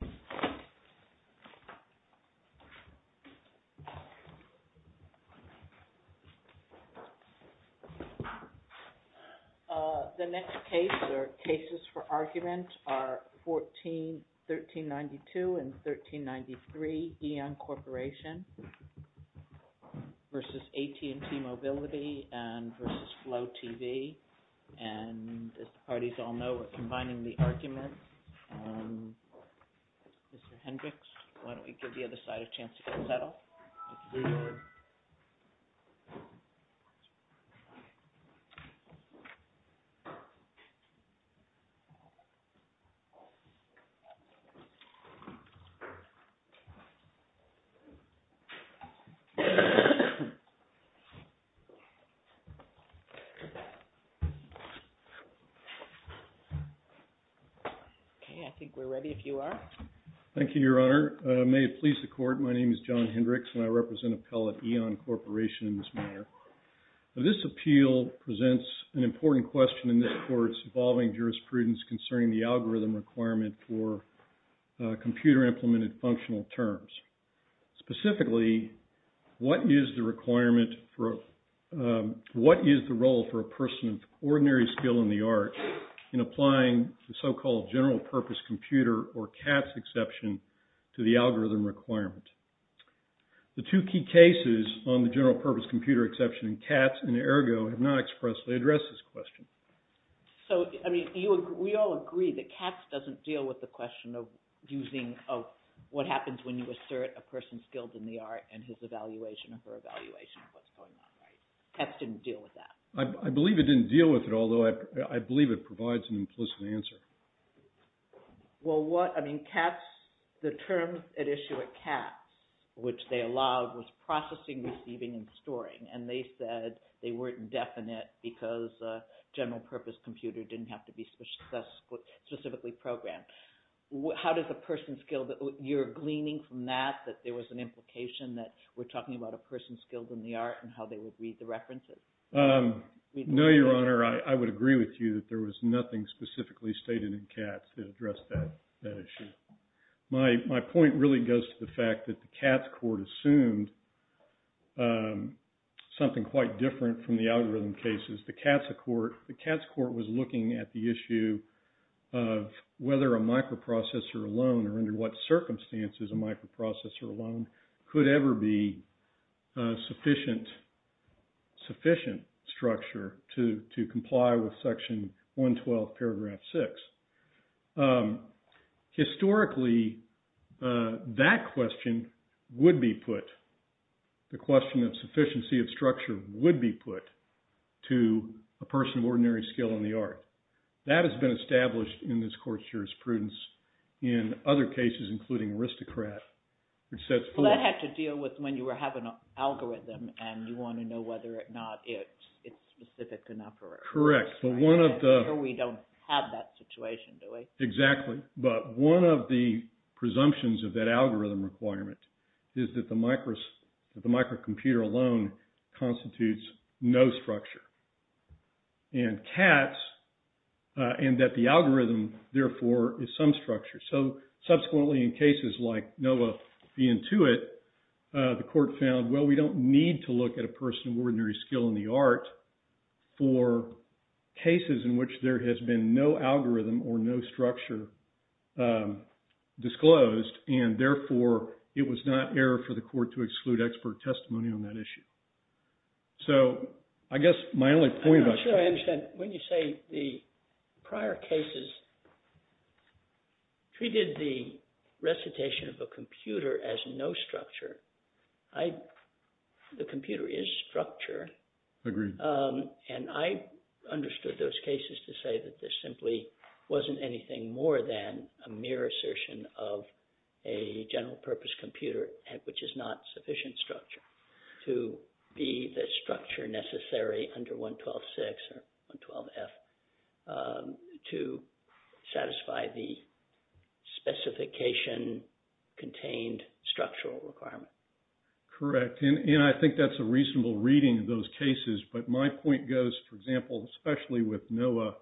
v. AT&T Mobility Inc. v. Flo TV Inc. Mr. Hendricks, why don't we give the other side a chance to get settled? Okay, I think we're ready if you are. Thank you, Your Honor. May it please the Court, my name is John Hendricks and I represent Appellate EON Corporation in this matter. This appeal presents an important question in this Court's evolving jurisprudence concerning the algorithm requirement for computer implemented functional terms. Specifically, what is the requirement for, what is the role for a person of ordinary skill in the arts in applying the so-called general purpose computer or CATS exception to the algorithm requirement? The two key cases on the general purpose computer exception in CATS and ERGO have not expressly addressed this question. So, I mean, we all agree that CATS doesn't deal with the question of using, of what happens when you assert a person's skills in the art and his evaluation or her evaluation of what's going on, right? CATS didn't deal with that. I believe it didn't deal with it, although I believe it provides an implicit answer. Well, what, I mean, CATS, the terms at issue at CATS, which they allowed, was processing, receiving, and storing, and they said they weren't indefinite because general purpose computer didn't have to be specifically programmed. How does a person's skill, you're gleaning from that that there was an implication that we're talking about a person's skills in the art and how they would read the references? No, Your Honor, I would agree with you that there was nothing specifically stated in CATS to address that issue. My point really goes to the fact that the CATS court assumed something quite different from the algorithm cases. The CATS court was looking at the issue of whether a microprocessor alone or under what circumstances a microprocessor alone could ever be sufficient structure to comply with section 112 paragraph six. Historically, that question would be put, the question of sufficiency of structure would be put to a person of ordinary skill in the art. That has been established in this court's jurisprudence in other cases, including aristocrat. Well, that had to deal with when you have an algorithm and you want to know whether or not it's specific enough. Correct. We don't have that situation, do we? Exactly. But one of the presumptions of that algorithm requirement is that the microcomputer alone constitutes no structure. And CATS, and that the algorithm, therefore, is some structure. So subsequently, in cases like NOAA v. Intuit, the court found, well, we don't need to look at a person of ordinary skill in the art for cases in which there has been no algorithm or no structure disclosed. And therefore, it was not error for the court to exclude expert testimony on that issue. So I guess my only point about… I'm not sure I understand. When you say the prior cases treated the recitation of a computer as no structure, the computer is structure. Agreed. And I understood those cases to say that there simply wasn't anything more than a mere assertion of a general purpose computer, which is not sufficient structure, to be the structure necessary under 112-6 or 112-F to satisfy the specification contained structural requirement. Correct. And I think that's a reasonable reading of those cases. But my point goes, for example, especially with NOAA,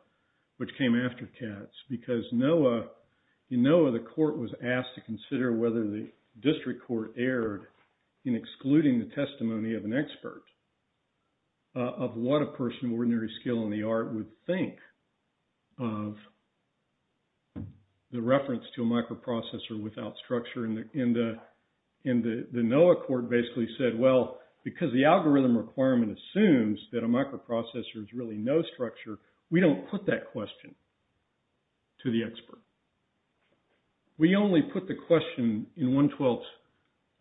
which came after CATS, because NOAA… In NOAA, the court was asked to consider whether the district court erred in excluding the testimony of an expert of what a person of ordinary skill in the art would think of the reference to a microprocessor without structure. And the NOAA court basically said, well, because the algorithm requirement assumes that a microprocessor is really no structure, we don't put that question to the expert. We only put the question in 112-6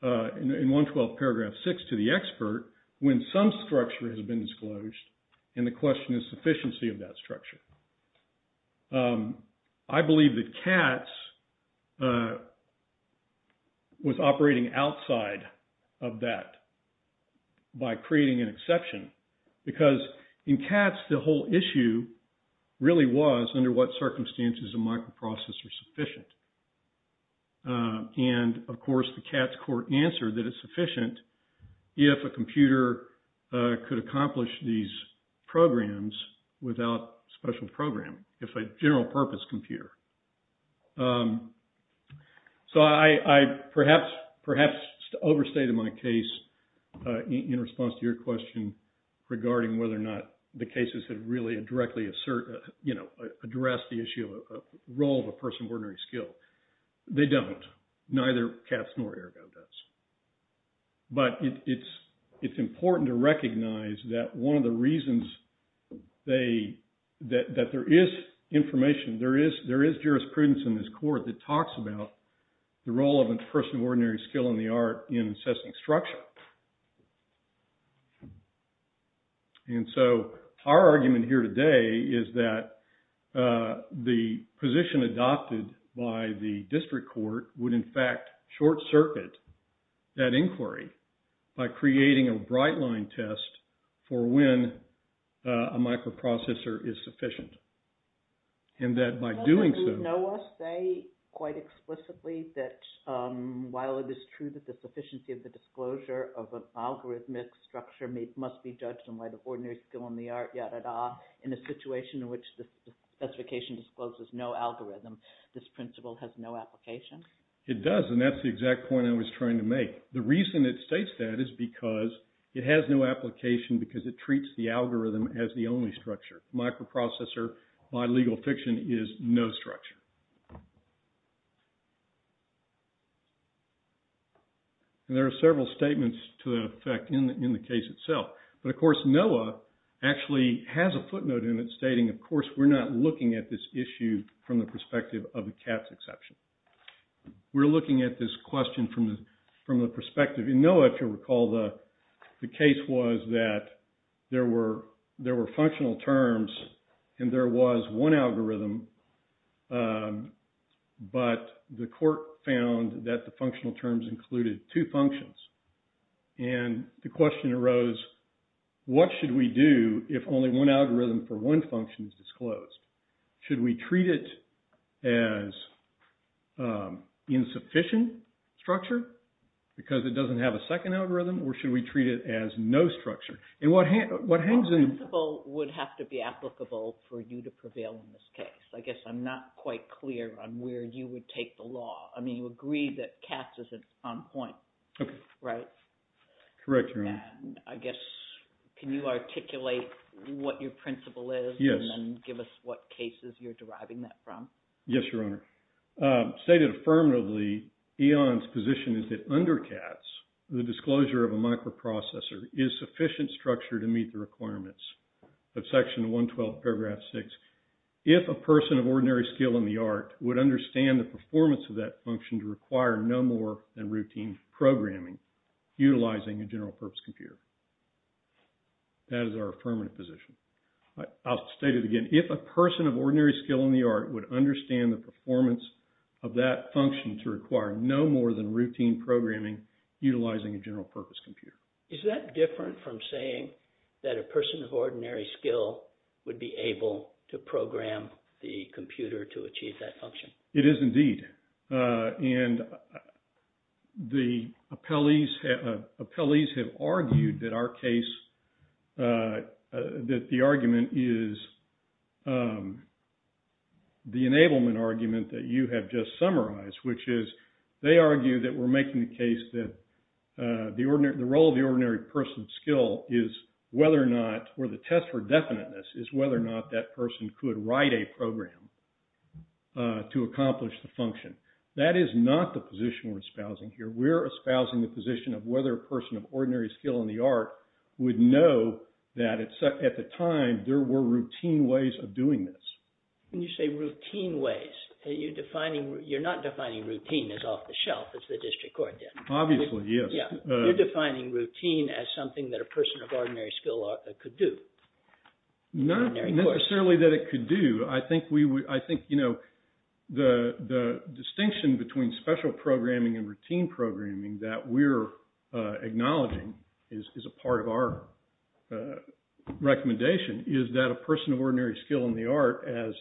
to the expert when some structure has been disclosed, and the question is sufficiency of that structure. I believe that CATS was operating outside of that by creating an exception, because in CATS, the whole issue really was under what circumstances a microprocessor is sufficient. And, of course, the CATS court answered that it's sufficient if a computer could accomplish these programs without special programming, if a general-purpose computer. So I perhaps overstated my case in response to your question regarding whether or not the cases have really directly addressed the issue of role of a person of ordinary skill. They don't. Neither CATS nor ERGO does. But it's important to recognize that one of the reasons that there is information, there is jurisprudence in this court that talks about the role of a person of ordinary skill in the art in assessing structure. And so our argument here today is that the position adopted by the district court would, in fact, short-circuit that inquiry by creating a bright-line test for when a microprocessor is sufficient. And that by doing so… Does NOAA say quite explicitly that while it is true that the sufficiency of the disclosure of an algorithmic structure must be judged in light of ordinary skill in the art, yada-da, in a situation in which the specification discloses no algorithm, this principle has no application? It does, and that's the exact point I was trying to make. The reason it states that is because it has no application because it treats the algorithm as the only structure. Microprocessor, by legal fiction, is no structure. And there are several statements to that effect in the case itself. But, of course, NOAA actually has a footnote in it stating, of course, we're not looking at this issue from the perspective of a CATS exception. We're looking at this question from the perspective… In NOAA, if you recall, the case was that there were functional terms and there was one algorithm, but the court found that the functional terms included two functions. And the question arose, what should we do if only one algorithm for one function is disclosed? Should we treat it as insufficient structure because it doesn't have a second algorithm, or should we treat it as no structure? And what hangs in… The principle would have to be applicable for you to prevail in this case. I guess I'm not quite clear on where you would take the law. I mean, you agree that CATS is on point, right? Correct, Your Honor. I guess, can you articulate what your principle is and then give us what cases you're deriving that from? Yes, Your Honor. Stated affirmatively, EON's position is that under CATS, the disclosure of a microprocessor is sufficient structure to meet the requirements of Section 112, Paragraph 6. If a person of ordinary skill in the art would understand the performance of that function to require no more than routine programming utilizing a general purpose computer. That is our affirmative position. I'll state it again. If a person of ordinary skill in the art would understand the performance of that function to require no more than routine programming utilizing a general purpose computer. Is that different from saying that a person of ordinary skill would be able to program the computer to achieve that function? It is indeed. And the appellees have argued that our case, that the argument is the enablement argument that you have just summarized, which is they argue that we're making the case that the role of the ordinary person of skill is whether or not, that person could write a program to accomplish the function. That is not the position we're espousing here. We're espousing the position of whether a person of ordinary skill in the art would know that at the time there were routine ways of doing this. When you say routine ways, you're not defining routine as off the shelf as the district court did. Obviously, yes. You're defining routine as something that a person of ordinary skill could do. Not necessarily that it could do. I think the distinction between special programming and routine programming that we're acknowledging is a part of our recommendation, is that a person of ordinary skill in the art, as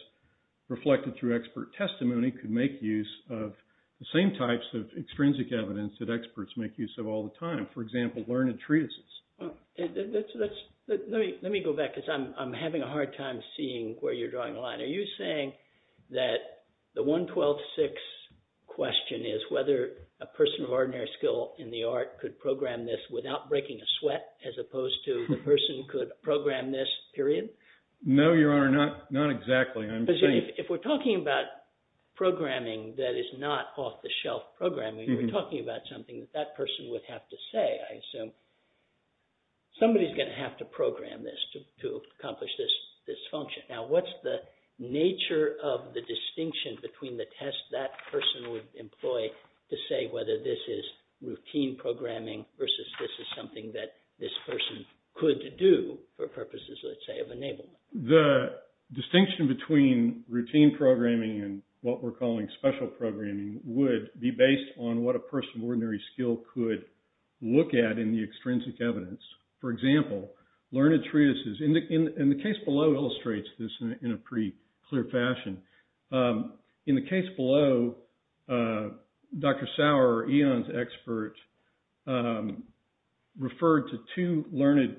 reflected through expert testimony, could make use of the same types of extrinsic evidence that experts make use of all the time. For example, learned treatises. Let me go back, because I'm having a hard time seeing where you're drawing the line. Are you saying that the 112.6 question is whether a person of ordinary skill in the art could program this without breaking a sweat, as opposed to the person could program this, period? No, Your Honor, not exactly. If we're talking about programming that is not off the shelf programming, we're talking about something that that person would have to say, I assume. Somebody's going to have to program this to accomplish this function. Now, what's the nature of the distinction between the test that person would employ to say whether this is routine programming versus this is something that this person could do for purposes, let's say, of enablement? The distinction between routine programming and what we're calling special programming would be based on what a person of ordinary skill could look at in the extrinsic evidence. For example, learned treatises. And the case below illustrates this in a pretty clear fashion. In the case below, Dr. Sauer, Eon's expert, referred to two learned,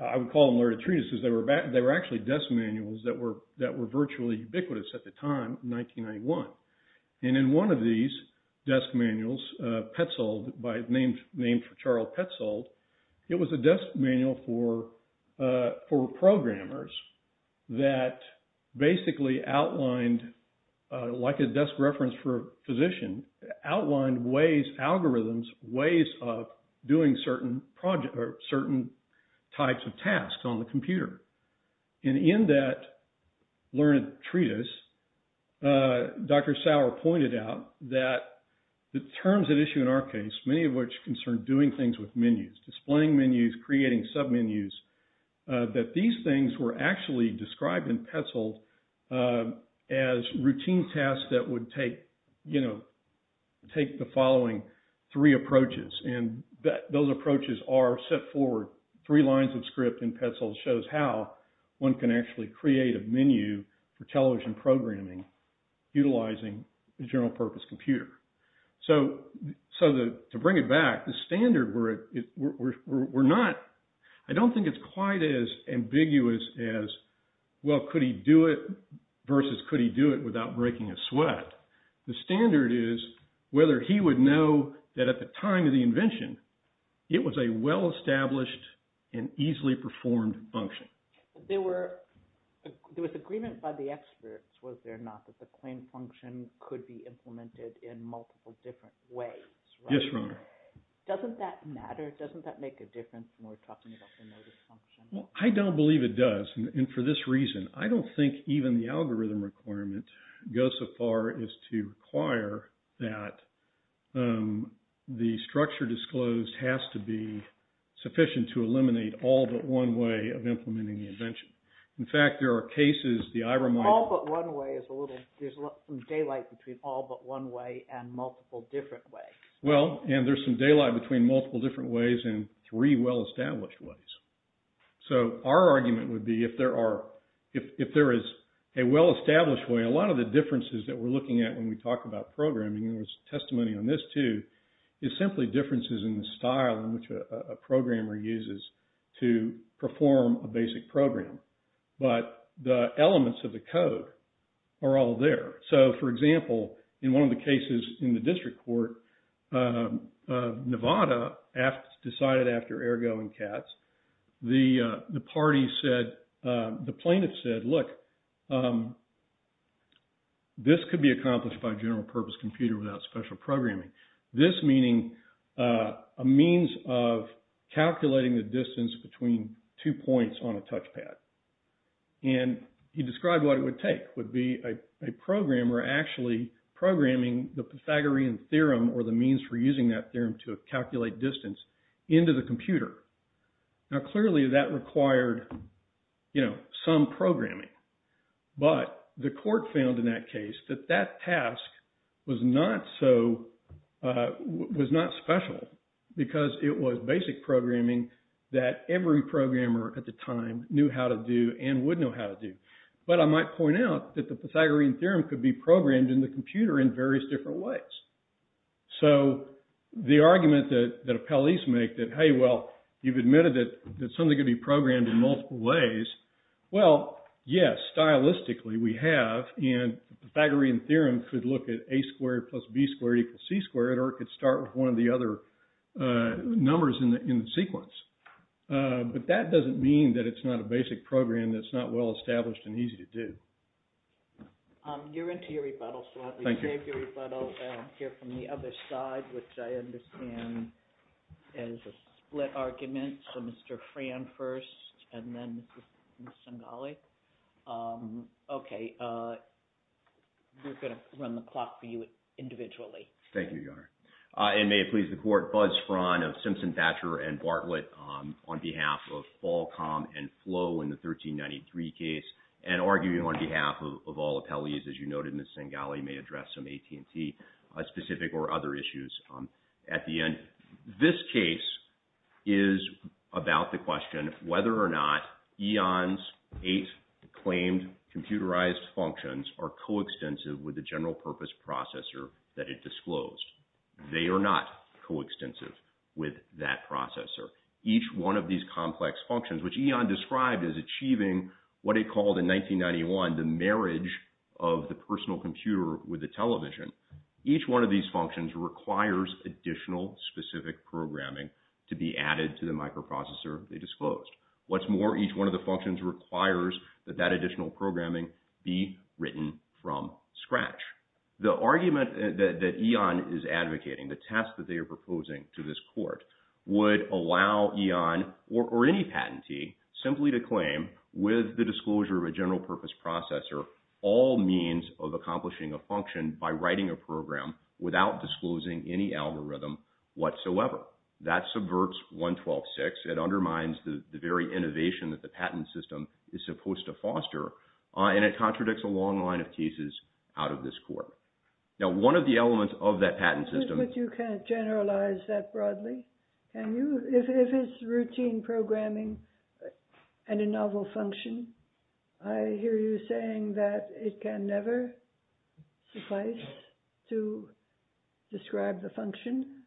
I would call them learned treatises. They were actually desk manuals that were virtually ubiquitous at the time in 1991. And in one of these desk manuals, Petzold, named for Charles Petzold, it was a desk manual for programmers that basically outlined, like a desk reference for a physician, outlined ways, algorithms, ways of doing certain types of tasks on the computer. And in that learned treatise, Dr. Sauer pointed out that the terms at issue in our case, many of which concern doing things with menus, displaying menus, creating submenus, that these things were actually described in Petzold as routine tasks that would take, you know, take the following three approaches. And those approaches are set forward. Three lines of script in Petzold shows how one can actually create a menu for television programming, utilizing the general purpose computer. So to bring it back, the standard, we're not, I don't think it's quite as ambiguous as, well, could he do it versus could he do it without breaking a sweat. The standard is whether he would know that at the time of the invention, it was a well-established and easily performed function. There was agreement by the experts, was there not, that the claim function could be implemented in multiple different ways, right? Yes, Your Honor. Doesn't that matter? Doesn't that make a difference when we're talking about the notice function? Well, I don't believe it does. And for this reason, I don't think even the algorithm requirement goes so far as to require that the structure disclosed has to be sufficient to eliminate all but one way of implementing the invention. In fact, there are cases that I remind you of. All but one way is a little, there's daylight between all but one way and multiple different ways. Well, and there's some daylight between multiple different ways and three well-established ways. So our argument would be if there are, if there is a well-established way, a lot of the differences that we're looking at when we talk about programming, there was testimony on this too, is simply differences in the style in which a programmer uses to perform a basic program. But the elements of the code are all there. So, for example, in one of the cases in the district court, Nevada decided after Ergo and Katz, the party said, the plaintiff said, look, this could be accomplished by a general purpose computer without special programming. This meaning a means of calculating the distance between two points on a touchpad. And he described what it would take would be a programmer actually programming the Pythagorean theorem or the means for using that theorem to calculate distance into the computer. Now, clearly that required, you know, some programming. But the court found in that case that that task was not so, was not special because it was basic programming that every programmer at the time knew how to do and would know how to do. But I might point out that the Pythagorean theorem could be programmed in the computer in various different ways. So the argument that appellees make that, hey, well, you've admitted that something could be programmed in multiple ways. Well, yes, stylistically, we have. And Pythagorean theorem could look at a squared plus b squared equals c squared or could start with one of the other numbers in the sequence. But that doesn't mean that it's not a basic program that's not well established and easy to do. You're into your rebuttal. Thank you. I'll hear from the other side, which I understand is a split argument. So, Mr. Fran first and then Ms. Singhali. OK. We're going to run the clock for you individually. Thank you, Your Honor. And may it please the court, fuzz Fran of Simpson, Thatcher and Bartlett on behalf of Falcom and Flow in the 1393 case and arguing on behalf of all appellees. As you noted, Ms. Singhali may address some AT&T specific or other issues at the end. This case is about the question of whether or not Eon's eight claimed computerized functions are coextensive with the general purpose processor that it disclosed. They are not coextensive with that processor. Each one of these complex functions, which Eon described as achieving what it called in 1991, the marriage of the personal computer with the television. Each one of these functions requires additional specific programming to be added to the microprocessor. They disclosed what's more. Each one of the functions requires that that additional programming be written from scratch. The argument that Eon is advocating the test that they are proposing to this court would allow Eon or any patentee simply to claim with the disclosure of a general purpose processor. All means of accomplishing a function by writing a program without disclosing any algorithm whatsoever. That subverts 112.6. It undermines the very innovation that the patent system is supposed to foster, and it contradicts a long line of cases out of this court. Now, one of the elements of that patent system— If it's routine programming and a novel function, I hear you saying that it can never suffice to describe the function?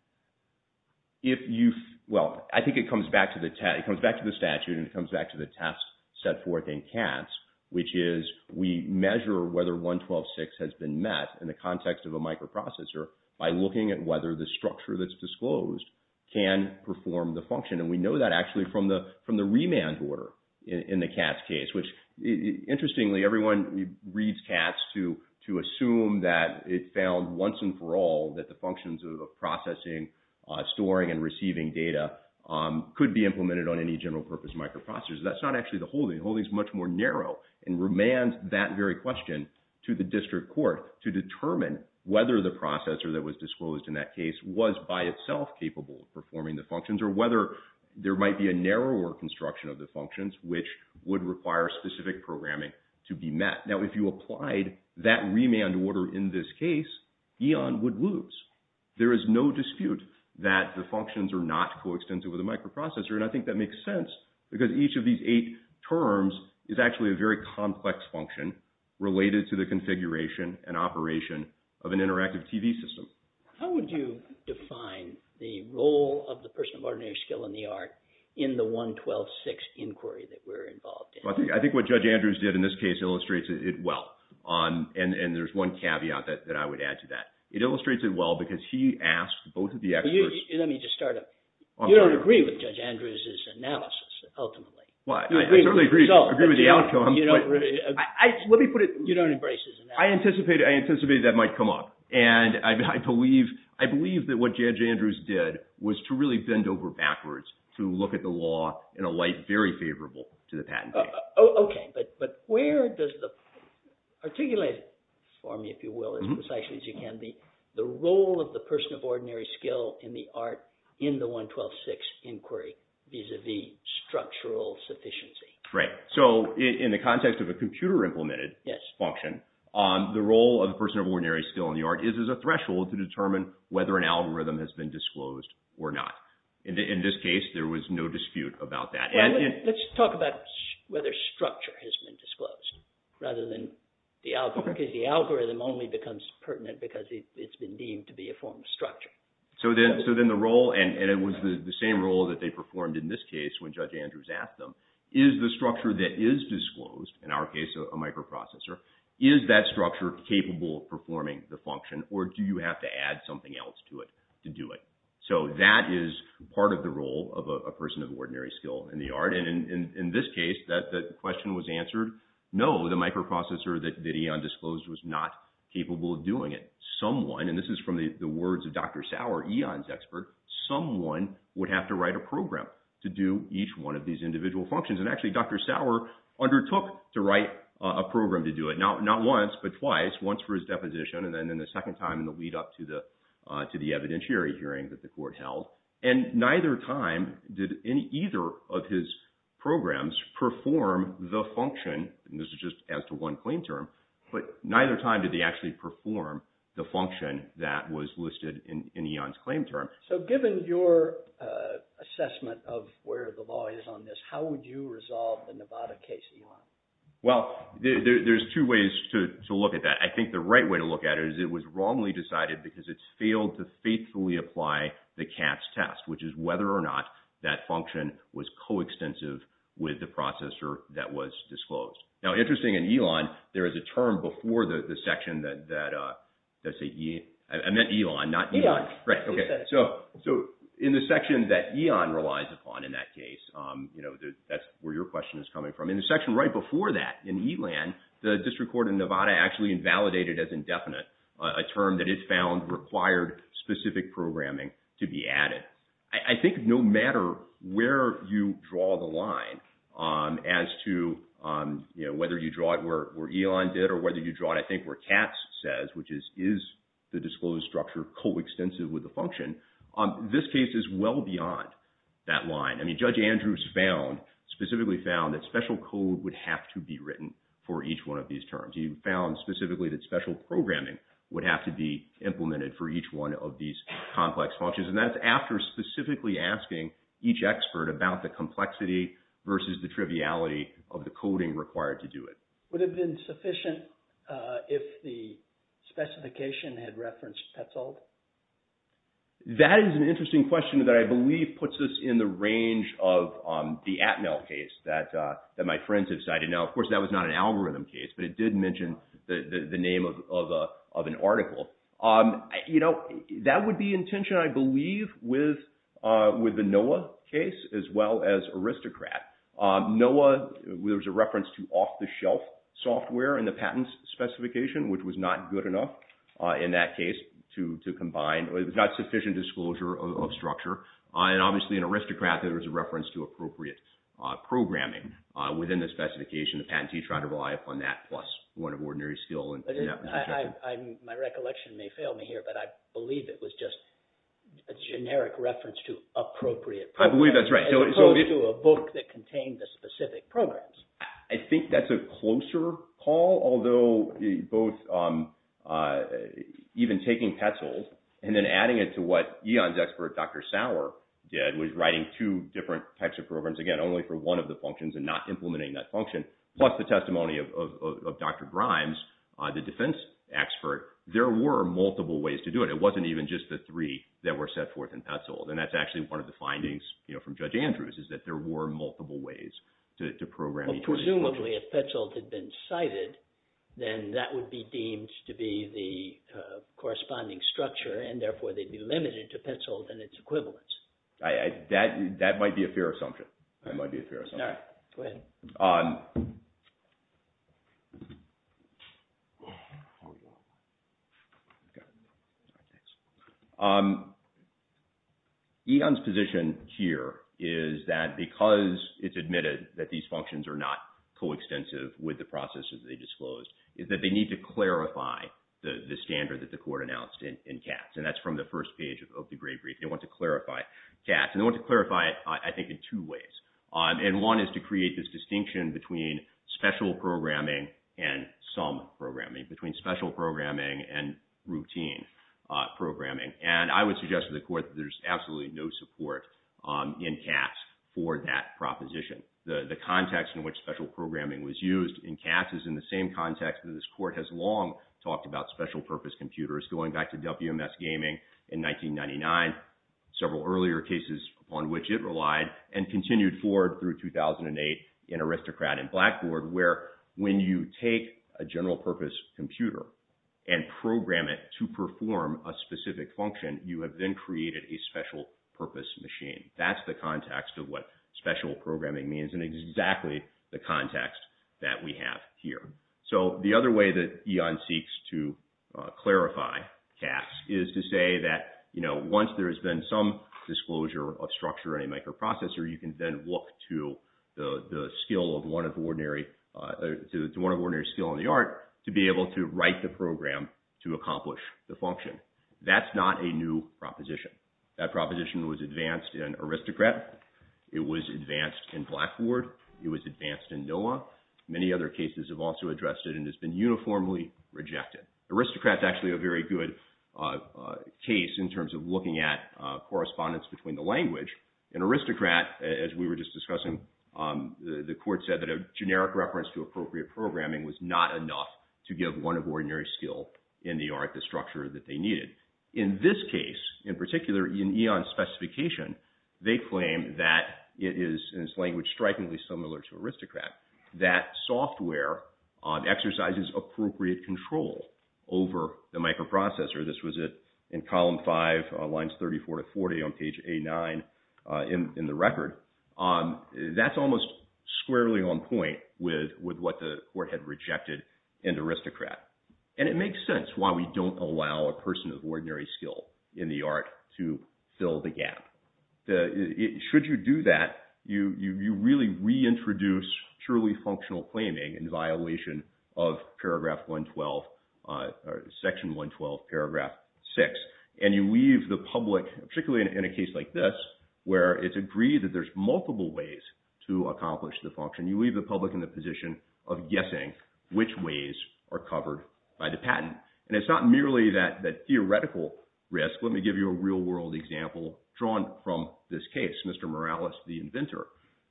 If you—well, I think it comes back to the statute, and it comes back to the test set forth in Katz, which is we measure whether 112.6 has been met in the context of a microprocessor by looking at whether the structure that's disclosed can perform the function. And we know that actually from the remand order in the Katz case, which, interestingly, everyone reads Katz to assume that it found once and for all that the functions of processing, storing, and receiving data could be implemented on any general purpose microprocessor. That's not actually the holding. The holding is much more narrow and remands that very question to the district court to determine whether the processor that was disclosed in that case was by itself capable of performing the functions or whether there might be a narrower construction of the functions, which would require specific programming to be met. Now, if you applied that remand order in this case, Eon would lose. There is no dispute that the functions are not coextensive with a microprocessor, and I think that makes sense because each of these eight terms is actually a very complex function related to the configuration and operation of an interactive TV system. How would you define the role of the person of ordinary skill in the art in the 112.6 inquiry that we're involved in? I think what Judge Andrews did in this case illustrates it well, and there's one caveat that I would add to that. It illustrates it well because he asked both of the experts. Let me just start up. You don't agree with Judge Andrews' analysis, ultimately. Well, I certainly agree with the outcome. Let me put it. You don't embrace his analysis. I anticipated that might come up, and I believe that what Judge Andrews did was to really bend over backwards to look at the law in a light very favorable to the patent case. Okay, but where does the – articulate for me, if you will, as precisely as you can, the role of the person of ordinary skill in the art in the 112.6 inquiry vis-à-vis structural sufficiency? Right. So in the context of a computer-implemented function, the role of the person of ordinary skill in the art is as a threshold to determine whether an algorithm has been disclosed or not. In this case, there was no dispute about that. Let's talk about whether structure has been disclosed rather than the algorithm, because the algorithm only becomes pertinent because it's been deemed to be a form of structure. So then the role – and it was the same role that they performed in this case when Judge Andrews asked them, is the structure that is disclosed – in our case, a microprocessor – is that structure capable of performing the function, or do you have to add something else to it to do it? So that is part of the role of a person of ordinary skill in the art. And in this case, that question was answered, no, the microprocessor that Eon disclosed was not capable of doing it. Someone – and this is from the words of Dr. Sauer, Eon's expert – someone would have to write a program to do each one of these individual functions. And actually, Dr. Sauer undertook to write a program to do it, not once but twice, once for his deposition and then the second time in the lead-up to the evidentiary hearing that the court held. And neither time did either of his programs perform the function – and this is just as to one claim term – but neither time did they actually perform the function that was listed in Eon's claim term. So given your assessment of where the law is on this, how would you resolve the Nevada case, Elon? Well, there's two ways to look at that. I think the right way to look at it is it was wrongly decided because it failed to faithfully apply the Katz test, which is whether or not that function was coextensive with the processor that was disclosed. Now, interesting in Elon, there is a term before the section that – I meant Elon, not Eon. Right, okay. So in the section that Eon relies upon in that case, that's where your question is coming from. In the section right before that in Elon, the district court in Nevada actually invalidated as indefinite a term that it found required specific programming to be added. And I think no matter where you draw the line as to whether you draw it where Eon did or whether you draw it, I think, where Katz says, which is, is the disclosed structure coextensive with the function, this case is well beyond that line. I mean, Judge Andrews found, specifically found, that special code would have to be written for each one of these terms. He found specifically that special programming would have to be implemented for each one of these complex functions. And that's after specifically asking each expert about the complexity versus the triviality of the coding required to do it. Would it have been sufficient if the specification had referenced Petzold? That is an interesting question that I believe puts us in the range of the Atmel case that my friends have cited. Now, of course, that was not an algorithm case, but it did mention the name of an article. You know, that would be in tension, I believe, with the NOAA case as well as Aristocrat. NOAA, there was a reference to off-the-shelf software in the patent specification, which was not good enough in that case to combine. It was not sufficient disclosure of structure. And obviously, in Aristocrat, there was a reference to appropriate programming within the specification. The patentee tried to rely upon that plus one of ordinary skill in that. My recollection may fail me here, but I believe it was just a generic reference to appropriate programming. I believe that's right. As opposed to a book that contained the specific programs. I think that's a closer call, although both even taking Petzold and then adding it to what Eon's expert, Dr. Sauer, did, was writing two different types of programs, again, only for one of the functions and not implementing that function, plus the testimony of Dr. Grimes, the defense expert. There were multiple ways to do it. It wasn't even just the three that were set forth in Petzold. And that's actually one of the findings from Judge Andrews, is that there were multiple ways to program each of these functions. Presumably, if Petzold had been cited, then that would be deemed to be the corresponding structure, and therefore they'd be limited to Petzold and its equivalents. That might be a fair assumption. Eon's position here is that because it's admitted that these functions are not coextensive with the processes they disclosed, is that they need to clarify the standard that the court announced in Katz. And that's from the first page of the grade brief. They want to clarify Katz. And they want to clarify it, I think, in two ways. And one is to create this distinction between special programming and some programming, between special programming and routine programming. And I would suggest to the court that there's absolutely no support in Katz for that proposition. The context in which special programming was used in Katz is in the same context that this court has long talked about special-purpose computers, going back to WMS Gaming in 1999, several earlier cases on which it relied, and continued forward through 2008 in Aristocrat and Blackboard, where when you take a general-purpose computer and program it to perform a specific function, you have then created a special-purpose machine. That's the context of what special programming means, and it's exactly the context that we have here. So the other way that Eon seeks to clarify Katz is to say that, you know, once there has been some disclosure of structure in a microprocessor, you can then look to the skill of one of ordinary, to one of ordinary skill in the art, to be able to write the program to accomplish the function. That's not a new proposition. That proposition was advanced in Aristocrat. It was advanced in Blackboard. It was advanced in NOAA. Many other cases have also addressed it, and it's been uniformly rejected. Aristocrat's actually a very good case in terms of looking at correspondence between the language. In Aristocrat, as we were just discussing, the court said that a generic reference to appropriate programming was not enough to give one of ordinary skill in the art the structure that they needed. In this case, in particular, in Eon's specification, they claim that it is, in its language, strikingly similar to Aristocrat, that software exercises appropriate control over the microprocessor. This was in column 5, lines 34 to 40 on page A9 in the record. That's almost squarely on point with what the court had rejected in Aristocrat, and it makes sense why we don't allow a person of ordinary skill in the art to fill the gap. Should you do that, you really reintroduce truly functional claiming in violation of paragraph 112, section 112, paragraph 6, and you leave the public, particularly in a case like this, where it's agreed that there's multiple ways to accomplish the function, and you leave the public in the position of guessing which ways are covered by the patent. And it's not merely that theoretical risk. Let me give you a real-world example drawn from this case. Mr. Morales, the inventor,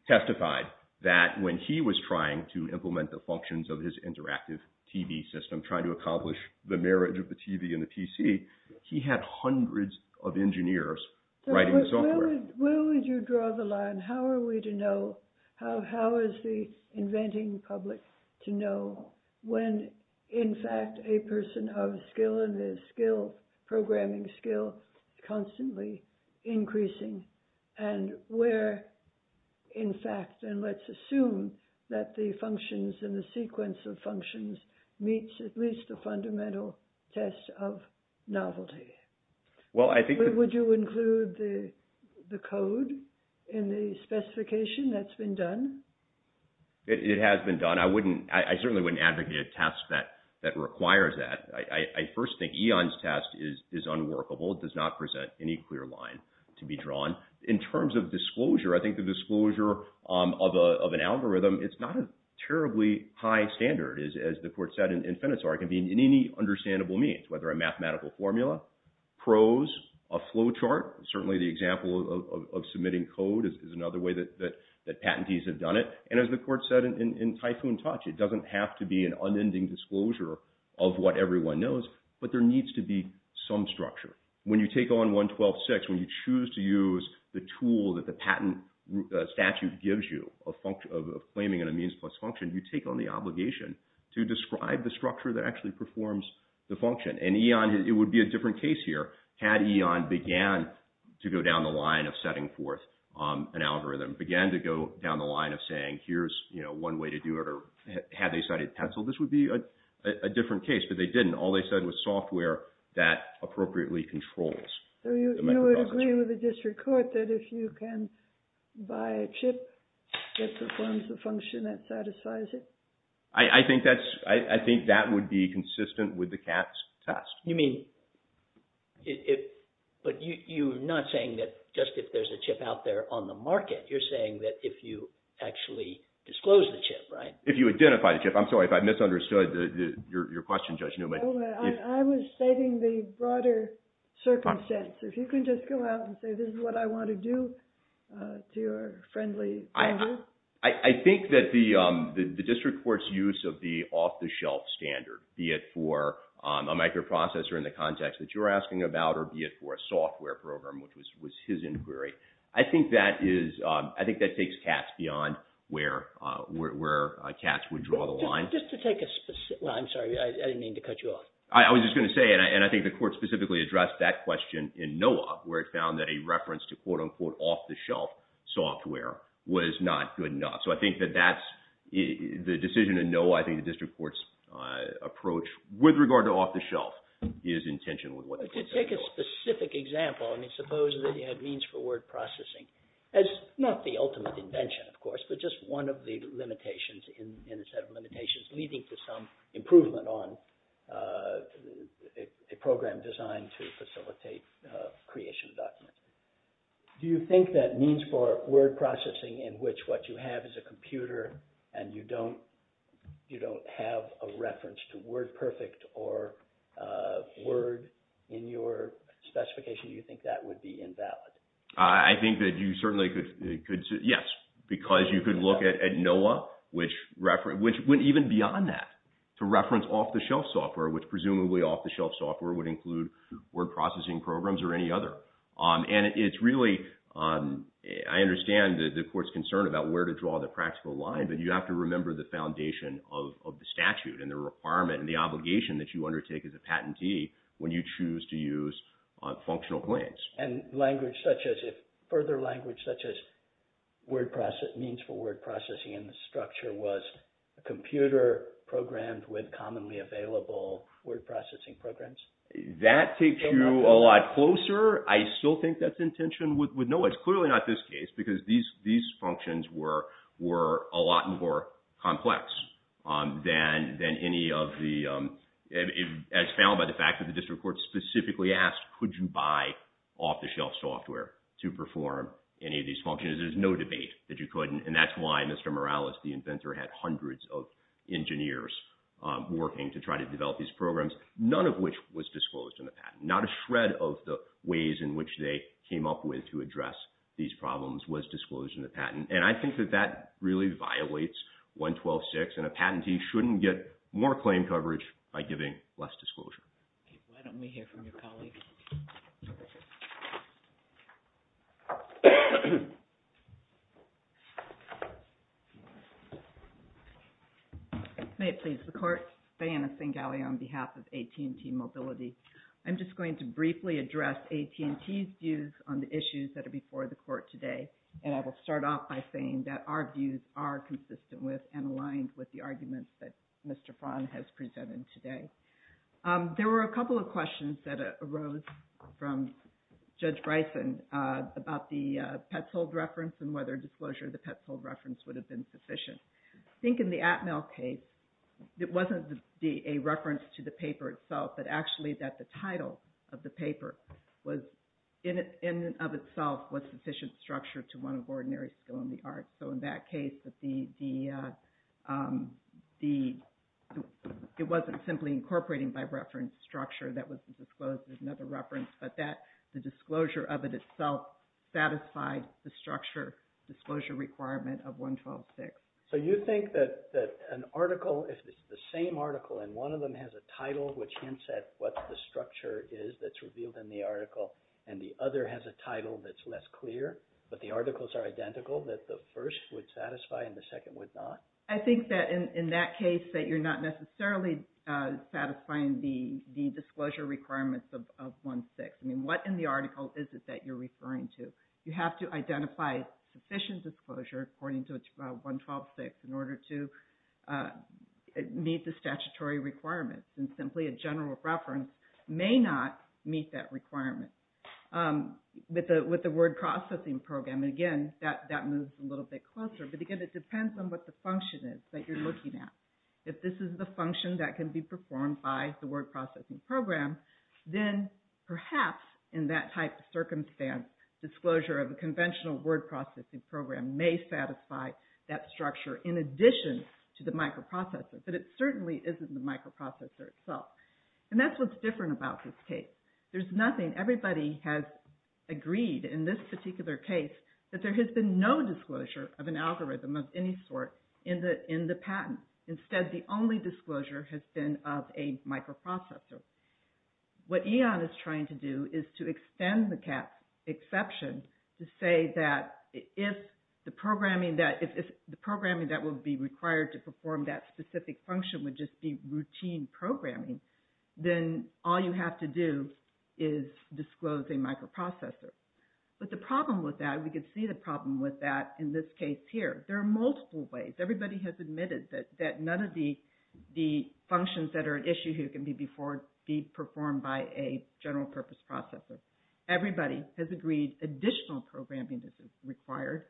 testified that when he was trying to implement the functions of his interactive TV system, trying to accomplish the marriage of the TV and the PC, he had hundreds of engineers writing software. Where would you draw the line? How are we to know? How is the inventing public to know when, in fact, a person of skill in this skill, programming skill, constantly increasing, and where, in fact, and let's assume that the functions and the sequence of functions meets at least the fundamental test of novelty? Would you include the code in the specification? That's been done? It has been done. I certainly wouldn't advocate a test that requires that. I first think Eon's test is unworkable. It does not present any clear line to be drawn. In terms of disclosure, I think the disclosure of an algorithm, it's not a terribly high standard, as the court said in Fennett's argument, in any understandable means, whether a mathematical formula, prose, a flow chart. Certainly the example of submitting code is another way that patentees have done it. And as the court said in Typhoon Touch, it doesn't have to be an unending disclosure of what everyone knows, but there needs to be some structure. When you take on 112.6, when you choose to use the tool that the patent statute gives you of claiming a means plus function, you take on the obligation to describe the structure that actually performs the function. And Eon, it would be a different case here had Eon began to go down the line of setting forth an algorithm, began to go down the line of saying, here's one way to do it, or had they cited pencil, this would be a different case. But they didn't. All they said was software that appropriately controls. So you would agree with the district court that if you can buy a chip that performs the function that satisfies it? I think that would be consistent with the Katz test. You mean, but you're not saying that just if there's a chip out there on the market, you're saying that if you actually disclose the chip, right? If you identify the chip. I'm sorry if I misunderstood your question, Judge Newman. I was stating the broader circumstance. If you can just go out and say this is what I want to do to your friendly panel. I think that the district court's use of the off-the-shelf standard, be it for a microprocessor in the context that you're asking about or be it for a software program, which was his inquiry, I think that takes Katz beyond where Katz would draw the line. Just to take a specific – well, I'm sorry. I didn't mean to cut you off. I was just going to say, and I think the court specifically addressed that question in NOAA, where it found that a reference to, quote-unquote, off-the-shelf software was not good enough. So I think that that's – the decision in NOAA, I think the district court's approach with regard to off-the-shelf is in tension with what the court said before. To take a specific example, I mean, suppose that you had means-forward processing as not the ultimate invention, of course, but just one of the limitations in a set of limitations leading to some improvement on a program designed to facilitate creation of documents. Do you think that means-forward processing in which what you have is a computer and you don't have a reference to WordPerfect or Word in your specification, do you think that would be invalid? I think that you certainly could – yes, because you could look at NOAA, which went even beyond that to reference off-the-shelf software, which presumably off-the-shelf software would include word processing programs or any other. And it's really – I understand the court's concern about where to draw the practical line, but you have to remember the foundation of the statute and the requirement and the obligation that you undertake as a patentee when you choose to use functional claims. And language such as – further language such as means-forward processing in the structure was a computer programmed with commonly available word processing programs? That takes you a lot closer. I still think that's intention with NOAA. It's clearly not this case because these functions were a lot more complex than any of the – as found by the fact that the district court specifically asked, could you buy off-the-shelf software to perform any of these functions? There's no debate that you couldn't, and that's why Mr. Morales, the inventor, had hundreds of engineers working to try to develop these programs, none of which was disclosed in the patent. Not a shred of the ways in which they came up with to address these problems was disclosed in the patent. And I think that that really violates 112.6, and a patentee shouldn't get more claim coverage by giving less disclosure. Why don't we hear from your colleague? May it please the court. Diana Singalley on behalf of AT&T Mobility. I'm just going to briefly address AT&T's views on the issues that are before the court today, and I will start off by saying that our views are consistent with and aligned with the arguments that Mr. Frahn has presented today. There were a couple of questions that arose from Judge Bryson about the Petzold reference and whether disclosure of the Petzold reference would have been sufficient. I think in the Atmel case, it wasn't a reference to the paper itself, but actually that the title of the paper was in and of itself So in that case, it wasn't simply incorporating by reference structure that was disclosed as another reference, but the disclosure of it itself satisfied the disclosure requirement of 112.6. So you think that an article, if it's the same article, and one of them has a title which hints at what the structure is that's revealed in the article, and the other has a title that's less clear, but the articles are identical, that the first would satisfy and the second would not? I think that in that case that you're not necessarily satisfying the disclosure requirements of 1.6. I mean, what in the article is it that you're referring to? You have to identify sufficient disclosure according to 112.6 in order to meet the statutory requirements, and simply a general reference may not meet that requirement. With the word processing program, again, that moves a little bit closer, but again, it depends on what the function is that you're looking at. If this is the function that can be performed by the word processing program, then perhaps in that type of circumstance, disclosure of a conventional word processing program may satisfy that structure in addition to the microprocessor, but it certainly isn't the microprocessor itself. And that's what's different about this case. There's nothing. Everybody has agreed in this particular case that there has been no disclosure of an algorithm of any sort in the patent. Instead, the only disclosure has been of a microprocessor. What Eon is trying to do is to extend the cat's exception to say that if the programming that will be required to perform that specific function would just be routine programming, then all you have to do is disclose a microprocessor. But the problem with that, we can see the problem with that in this case here. There are multiple ways. Everybody has admitted that none of the functions that are at issue here can be performed by a general purpose processor. Everybody has agreed additional programming is required.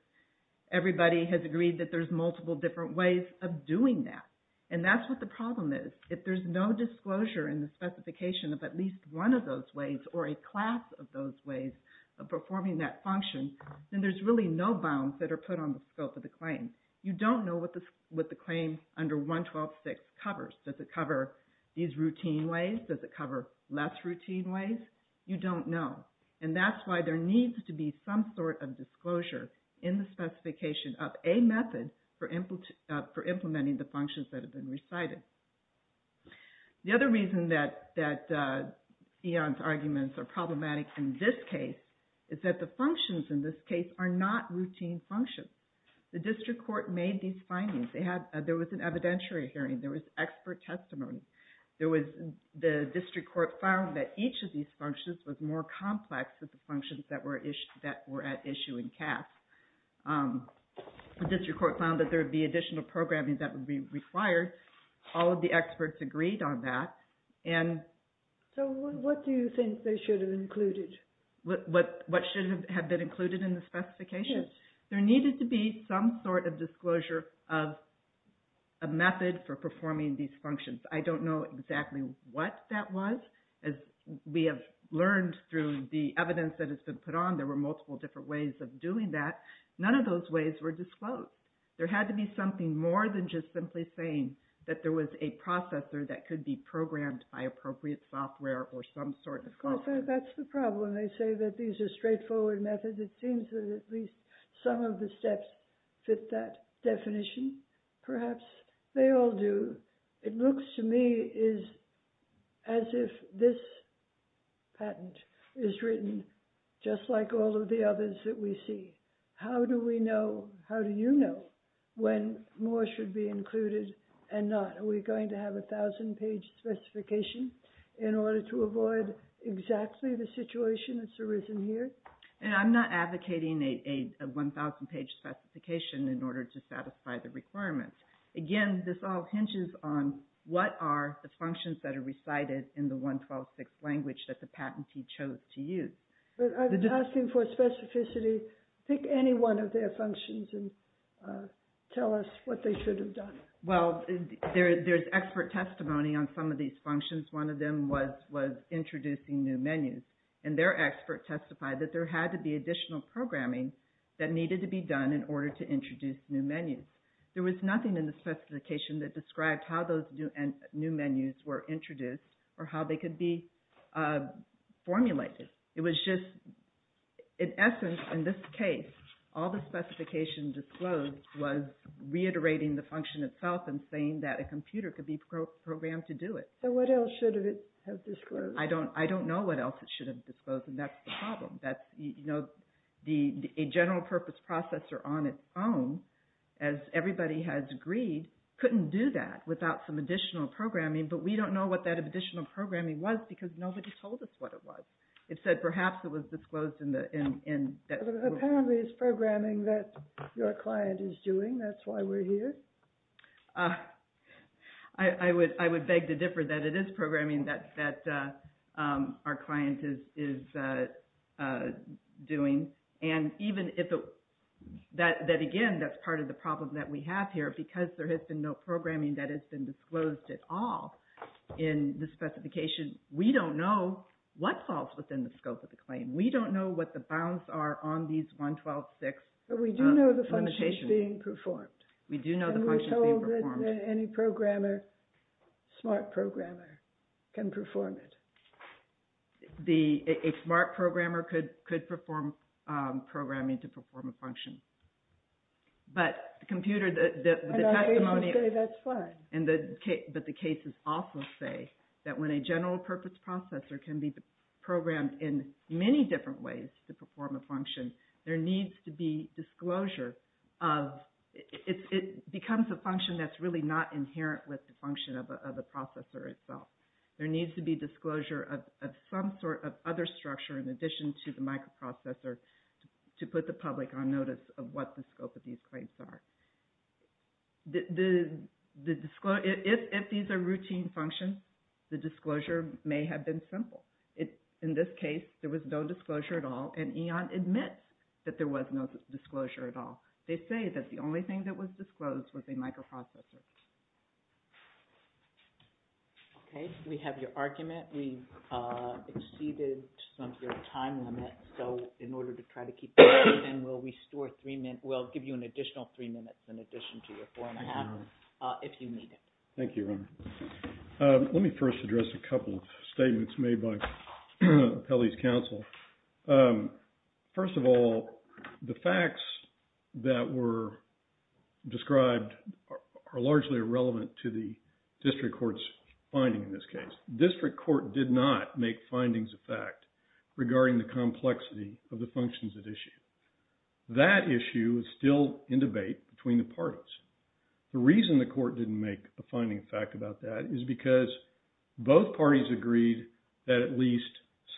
Everybody has agreed that there's multiple different ways of doing that, and that's what the problem is. If there's no disclosure in the specification of at least one of those ways or a class of those ways of performing that function, then there's really no bounds that are put on the scope of the claim. You don't know what the claim under 112.6 covers. Does it cover these routine ways? Does it cover less routine ways? You don't know. And that's why there needs to be some sort of disclosure in the specification of a method for implementing the functions that have been recited. The other reason that Eon's arguments are problematic in this case is that the functions in this case are not routine functions. The district court made these findings. There was an evidentiary hearing. There was expert testimony. The district court found that each of these functions was more complex than the functions that were at issue in CAS. The district court found that there would be additional programming that would be required. All of the experts agreed on that. So what do you think they should have included? What should have been included in the specification? Yes. There needed to be some sort of disclosure of a method for performing these functions. I don't know exactly what that was. We have learned through the evidence that has been put on there were multiple different ways of doing that. None of those ways were disclosed. There had to be something more than just simply saying that there was a processor that could be programmed by appropriate software or some sort of software. That's the problem. They say that these are straightforward methods. It seems that at least some of the steps fit that definition. Perhaps they all do. It looks to me as if this patent is written just like all of the others that we see. How do we know, how do you know, when more should be included and not? Are we going to have a 1,000-page specification in order to avoid exactly the situation that's arisen here? I'm not advocating a 1,000-page specification in order to satisfy the requirements. Again, this all hinges on what are the functions that are recited in the 112.6 language that the patentee chose to use. I'm asking for specificity. Pick any one of their functions and tell us what they should have done. Well, there's expert testimony on some of these functions. One of them was introducing new menus, and their expert testified that there had to be additional programming that needed to be done in order to introduce new menus. There was nothing in the specification that described how those new menus were introduced or how they could be formulated. It was just, in essence, in this case, all the specification disclosed was reiterating the function itself and saying that a computer could be programmed to do it. So what else should it have disclosed? I don't know what else it should have disclosed, and that's the problem. A general purpose processor on its own, as everybody has agreed, couldn't do that without some additional programming, but we don't know what that additional programming was because nobody told us what it was. It said perhaps it was disclosed in the... Apparently it's programming that your client is doing. That's why we're here. I would beg to differ that it is programming that our client is doing. And even if it... Again, that's part of the problem that we have here. Because there has been no programming that has been disclosed at all in the specification, we don't know what falls within the scope of the claim. We don't know what the bounds are on these 112.6 limitations. But we do know the function is being performed. We do know the function is being performed. Do you know that any programmer, smart programmer, can perform it? A smart programmer could perform programming to perform a function. But the computer... I'm not able to say that's fine. But the cases also say that when a general purpose processor can be programmed in many different ways to perform a function, there needs to be disclosure of... It becomes a function that's really not inherent with the function of the processor itself. There needs to be disclosure of some sort of other structure in addition to the microprocessor to put the public on notice of what the scope of these claims are. If these are routine functions, the disclosure may have been simple. In this case, there was no disclosure at all, and EON admits that there was no disclosure at all. They say that the only thing that was disclosed was a microprocessor. Okay. We have your argument. We've exceeded some of your time limit. So in order to try to keep this open, we'll restore three minutes... We'll give you an additional three minutes in addition to your four and a half, if you need it. Thank you, Ronna. Let me first address a couple of statements made by Kelly's counsel. First of all, the facts that were described are largely irrelevant to the district court's finding in this case. District court did not make findings of fact regarding the complexity of the functions at issue. That issue is still in debate between the parties. The reason the court didn't make a finding of fact about that is because both parties agreed that at least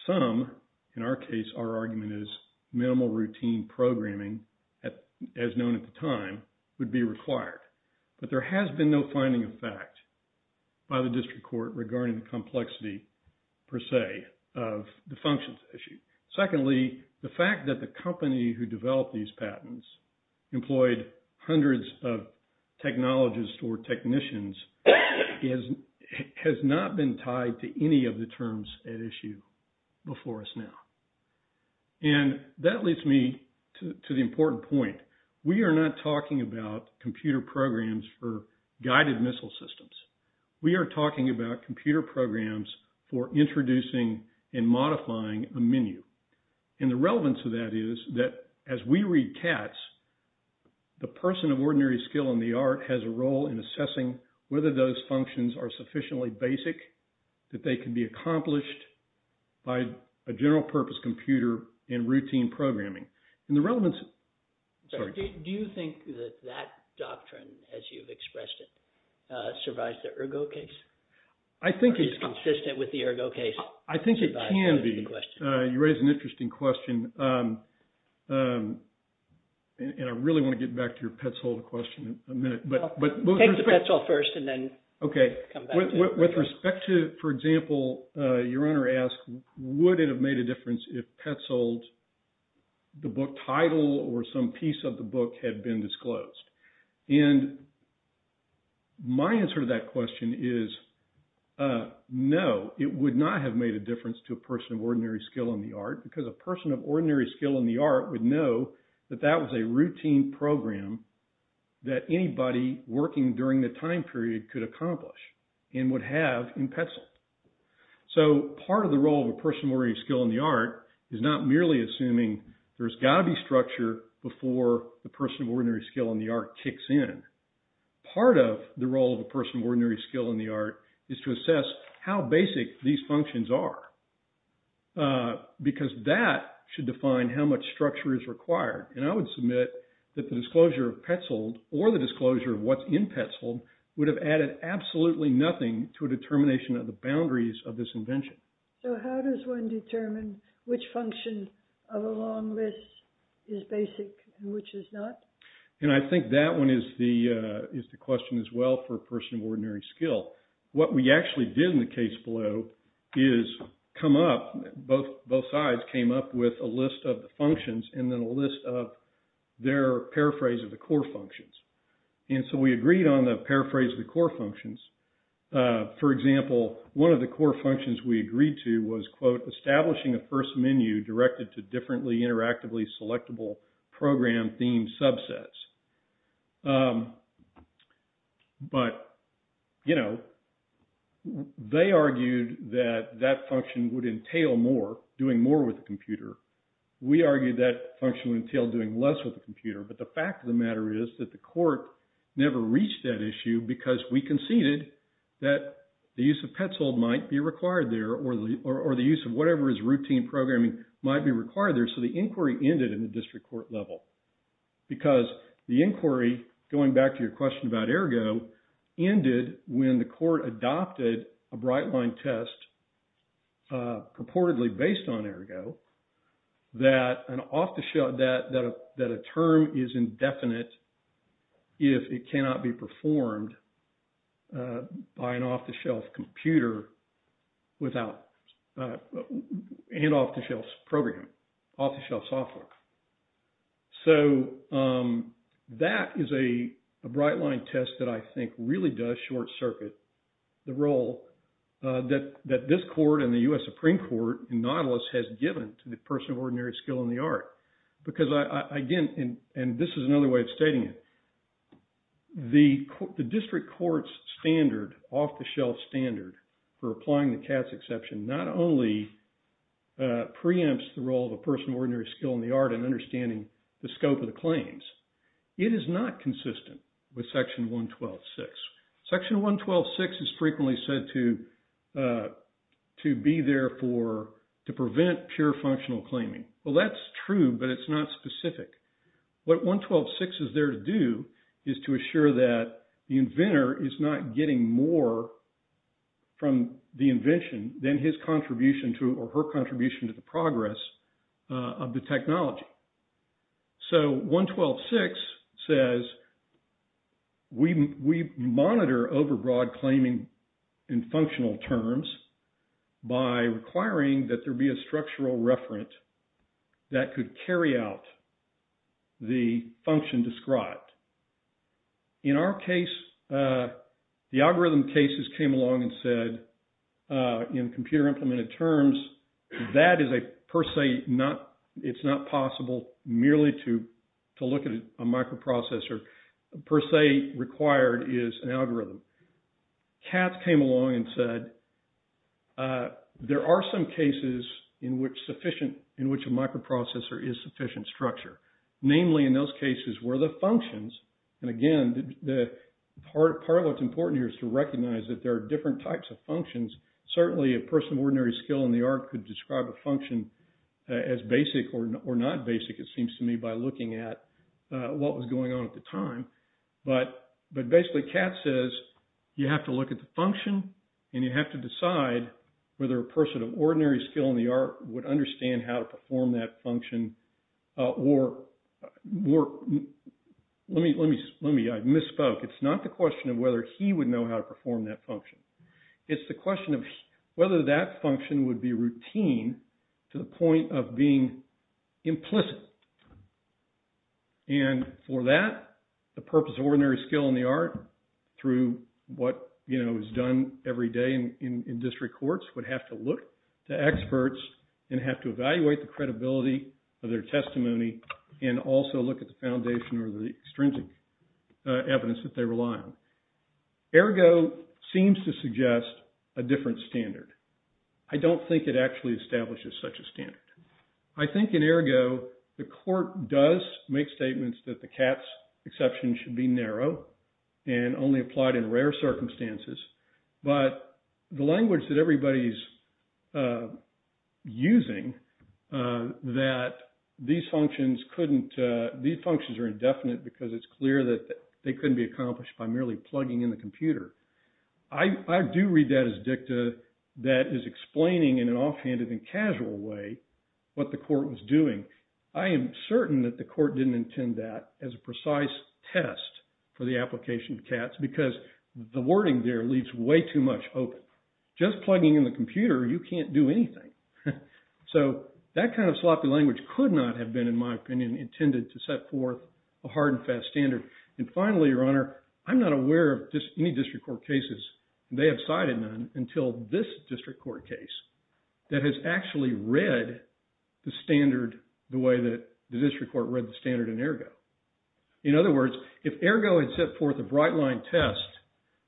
some, in our case, our argument is minimal routine programming, as known at the time, would be required. But there has been no finding of fact by the district court regarding the complexity, per se, of the functions issue. Secondly, the fact that the company who developed these patents employed hundreds of technologists or technicians has not been tied to any of the terms at issue before us now. And that leads me to the important point. We are not talking about computer programs for guided missile systems. We are talking about computer programs for introducing and modifying a menu. And the relevance of that is that as we read CATS, the person of ordinary skill in the art has a role in assessing whether those functions are sufficiently basic that they can be accomplished by a general purpose computer in routine programming. Do you think that that doctrine, as you've expressed it, survives the Ergo case? Is it consistent with the Ergo case? I think it can be. You raise an interesting question. And I really want to get back to your Petzold question in a minute. Take the Petzold first and then come back to it. Okay. With respect to, for example, your Honor asked, would it have made a difference if Petzold, the book title, or some piece of the book had been disclosed? And my answer to that question is no. It would not have made a difference to a person of ordinary skill in the art because a person of ordinary skill in the art would know that that was a routine program that anybody working during the time period could accomplish and would have in Petzold. So part of the role of a person of ordinary skill in the art is not merely assuming there's got to be structure before the person of ordinary skill in the art kicks in. Part of the role of a person of ordinary skill in the art is to assess how much structure is required. And I would submit that the disclosure of Petzold or the disclosure of what's in Petzold would have added absolutely nothing to a determination of the boundaries of this invention. So how does one determine which function of a long list is basic and which is not? And I think that one is the question as well for a person of ordinary skill. What we actually did in the case below is come up, both sides came up with a list of the functions and then a list of their paraphrase of the core functions. And so we agreed on the paraphrase of the core functions. For example, one of the core functions we agreed to was, quote, establishing a first menu directed to differently interactively selectable program theme subsets. But, you know, they argued that that function would entail more, doing more with the computer. We argued that function would entail doing less with the computer. But the fact of the matter is that the court never reached that issue because we conceded that the use of Petzold might be required there or the use of whatever is routine programming might be required there. And so the inquiry ended in the district court level because the inquiry, going back to your question about Ergo, ended when the court adopted a bright line test purportedly based on Ergo that an off the shelf, that a term is indefinite. If it cannot be performed by an off the shelf computer without, and off the shelf program, off the shelf software. So that is a bright line test that I think really does short circuit the role that this court and the U.S. Supreme Court in Nautilus has given to the person of ordinary skill in the art. Because again, and this is another way of stating it, the district court's standard, off the shelf standard, for applying the CATS exception, not only preempts the role of a person of ordinary skill in the art and understanding the scope of the claims, it is not consistent with section 112.6. Section 112.6 is frequently said to be there for, to prevent pure functional claiming. Well, that's true, but it's not specific. What 112.6 is there to do is to assure that the inventor is not getting more from the invention than his contribution to, or her contribution to the progress of the technology. So 112.6 says, we monitor overbroad claiming in functional terms by requiring that there be a structural referent that could carry out the function described. In our case, the algorithm cases came along and said in computer implemented terms, that is a per se not, it's not possible merely to look at a microprocessor per se required is an algorithm. CATS came along and said, there are some cases in which sufficient, in which a microprocessor is sufficient structure. Namely in those cases where the functions, and again, part of what's important here is to recognize that there are different types of functions. Certainly a person of ordinary skill in the art could describe a function as basic or not basic. It seems to me by looking at what was going on at the time, but, but basically CATS says you have to look at the function and you have to decide whether a person of ordinary skill in the art would understand how to perform that function or more. Let me, let me, let me, I misspoke. It's not the question of whether he would know how to perform that function. It's the question of whether that function would be routine to the point of being implicit. And for that, the purpose of ordinary skill in the art through what is done every day in district courts would have to look to experts and have to evaluate the credibility of their testimony. And also look at the foundation or the extrinsic evidence that they rely on. Ergo seems to suggest a different standard. I don't think it actually establishes such a standard. I think in ergo, the court does make statements that the CATS exception should be narrow and only applied in rare circumstances. But the language that everybody's using, that these functions couldn't, these functions are indefinite because it's clear that they couldn't be accomplished by merely plugging in the computer. I do read that as dicta that is explaining in an offhanded and casual way what the court was doing. I am certain that the court didn't intend that as a precise test for the application of CATS because the wording there leaves way too much hope. Just plugging in the computer, you can't do anything. So that kind of sloppy language could not have been, in my opinion, intended to set forth a hard and fast standard. And finally, Your Honor, I'm not aware of any district court cases, they have cited none until this district court case that has actually read the standard the way that the district court read the standard in ergo. In other words, if ergo had set forth a bright line test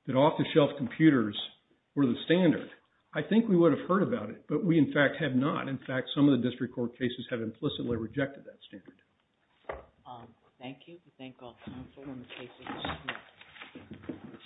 that off the shelf computers were the standard, I think we would have heard about it. But we, in fact, have not. In fact, some of the district court cases have implicitly rejected that standard. Thank you.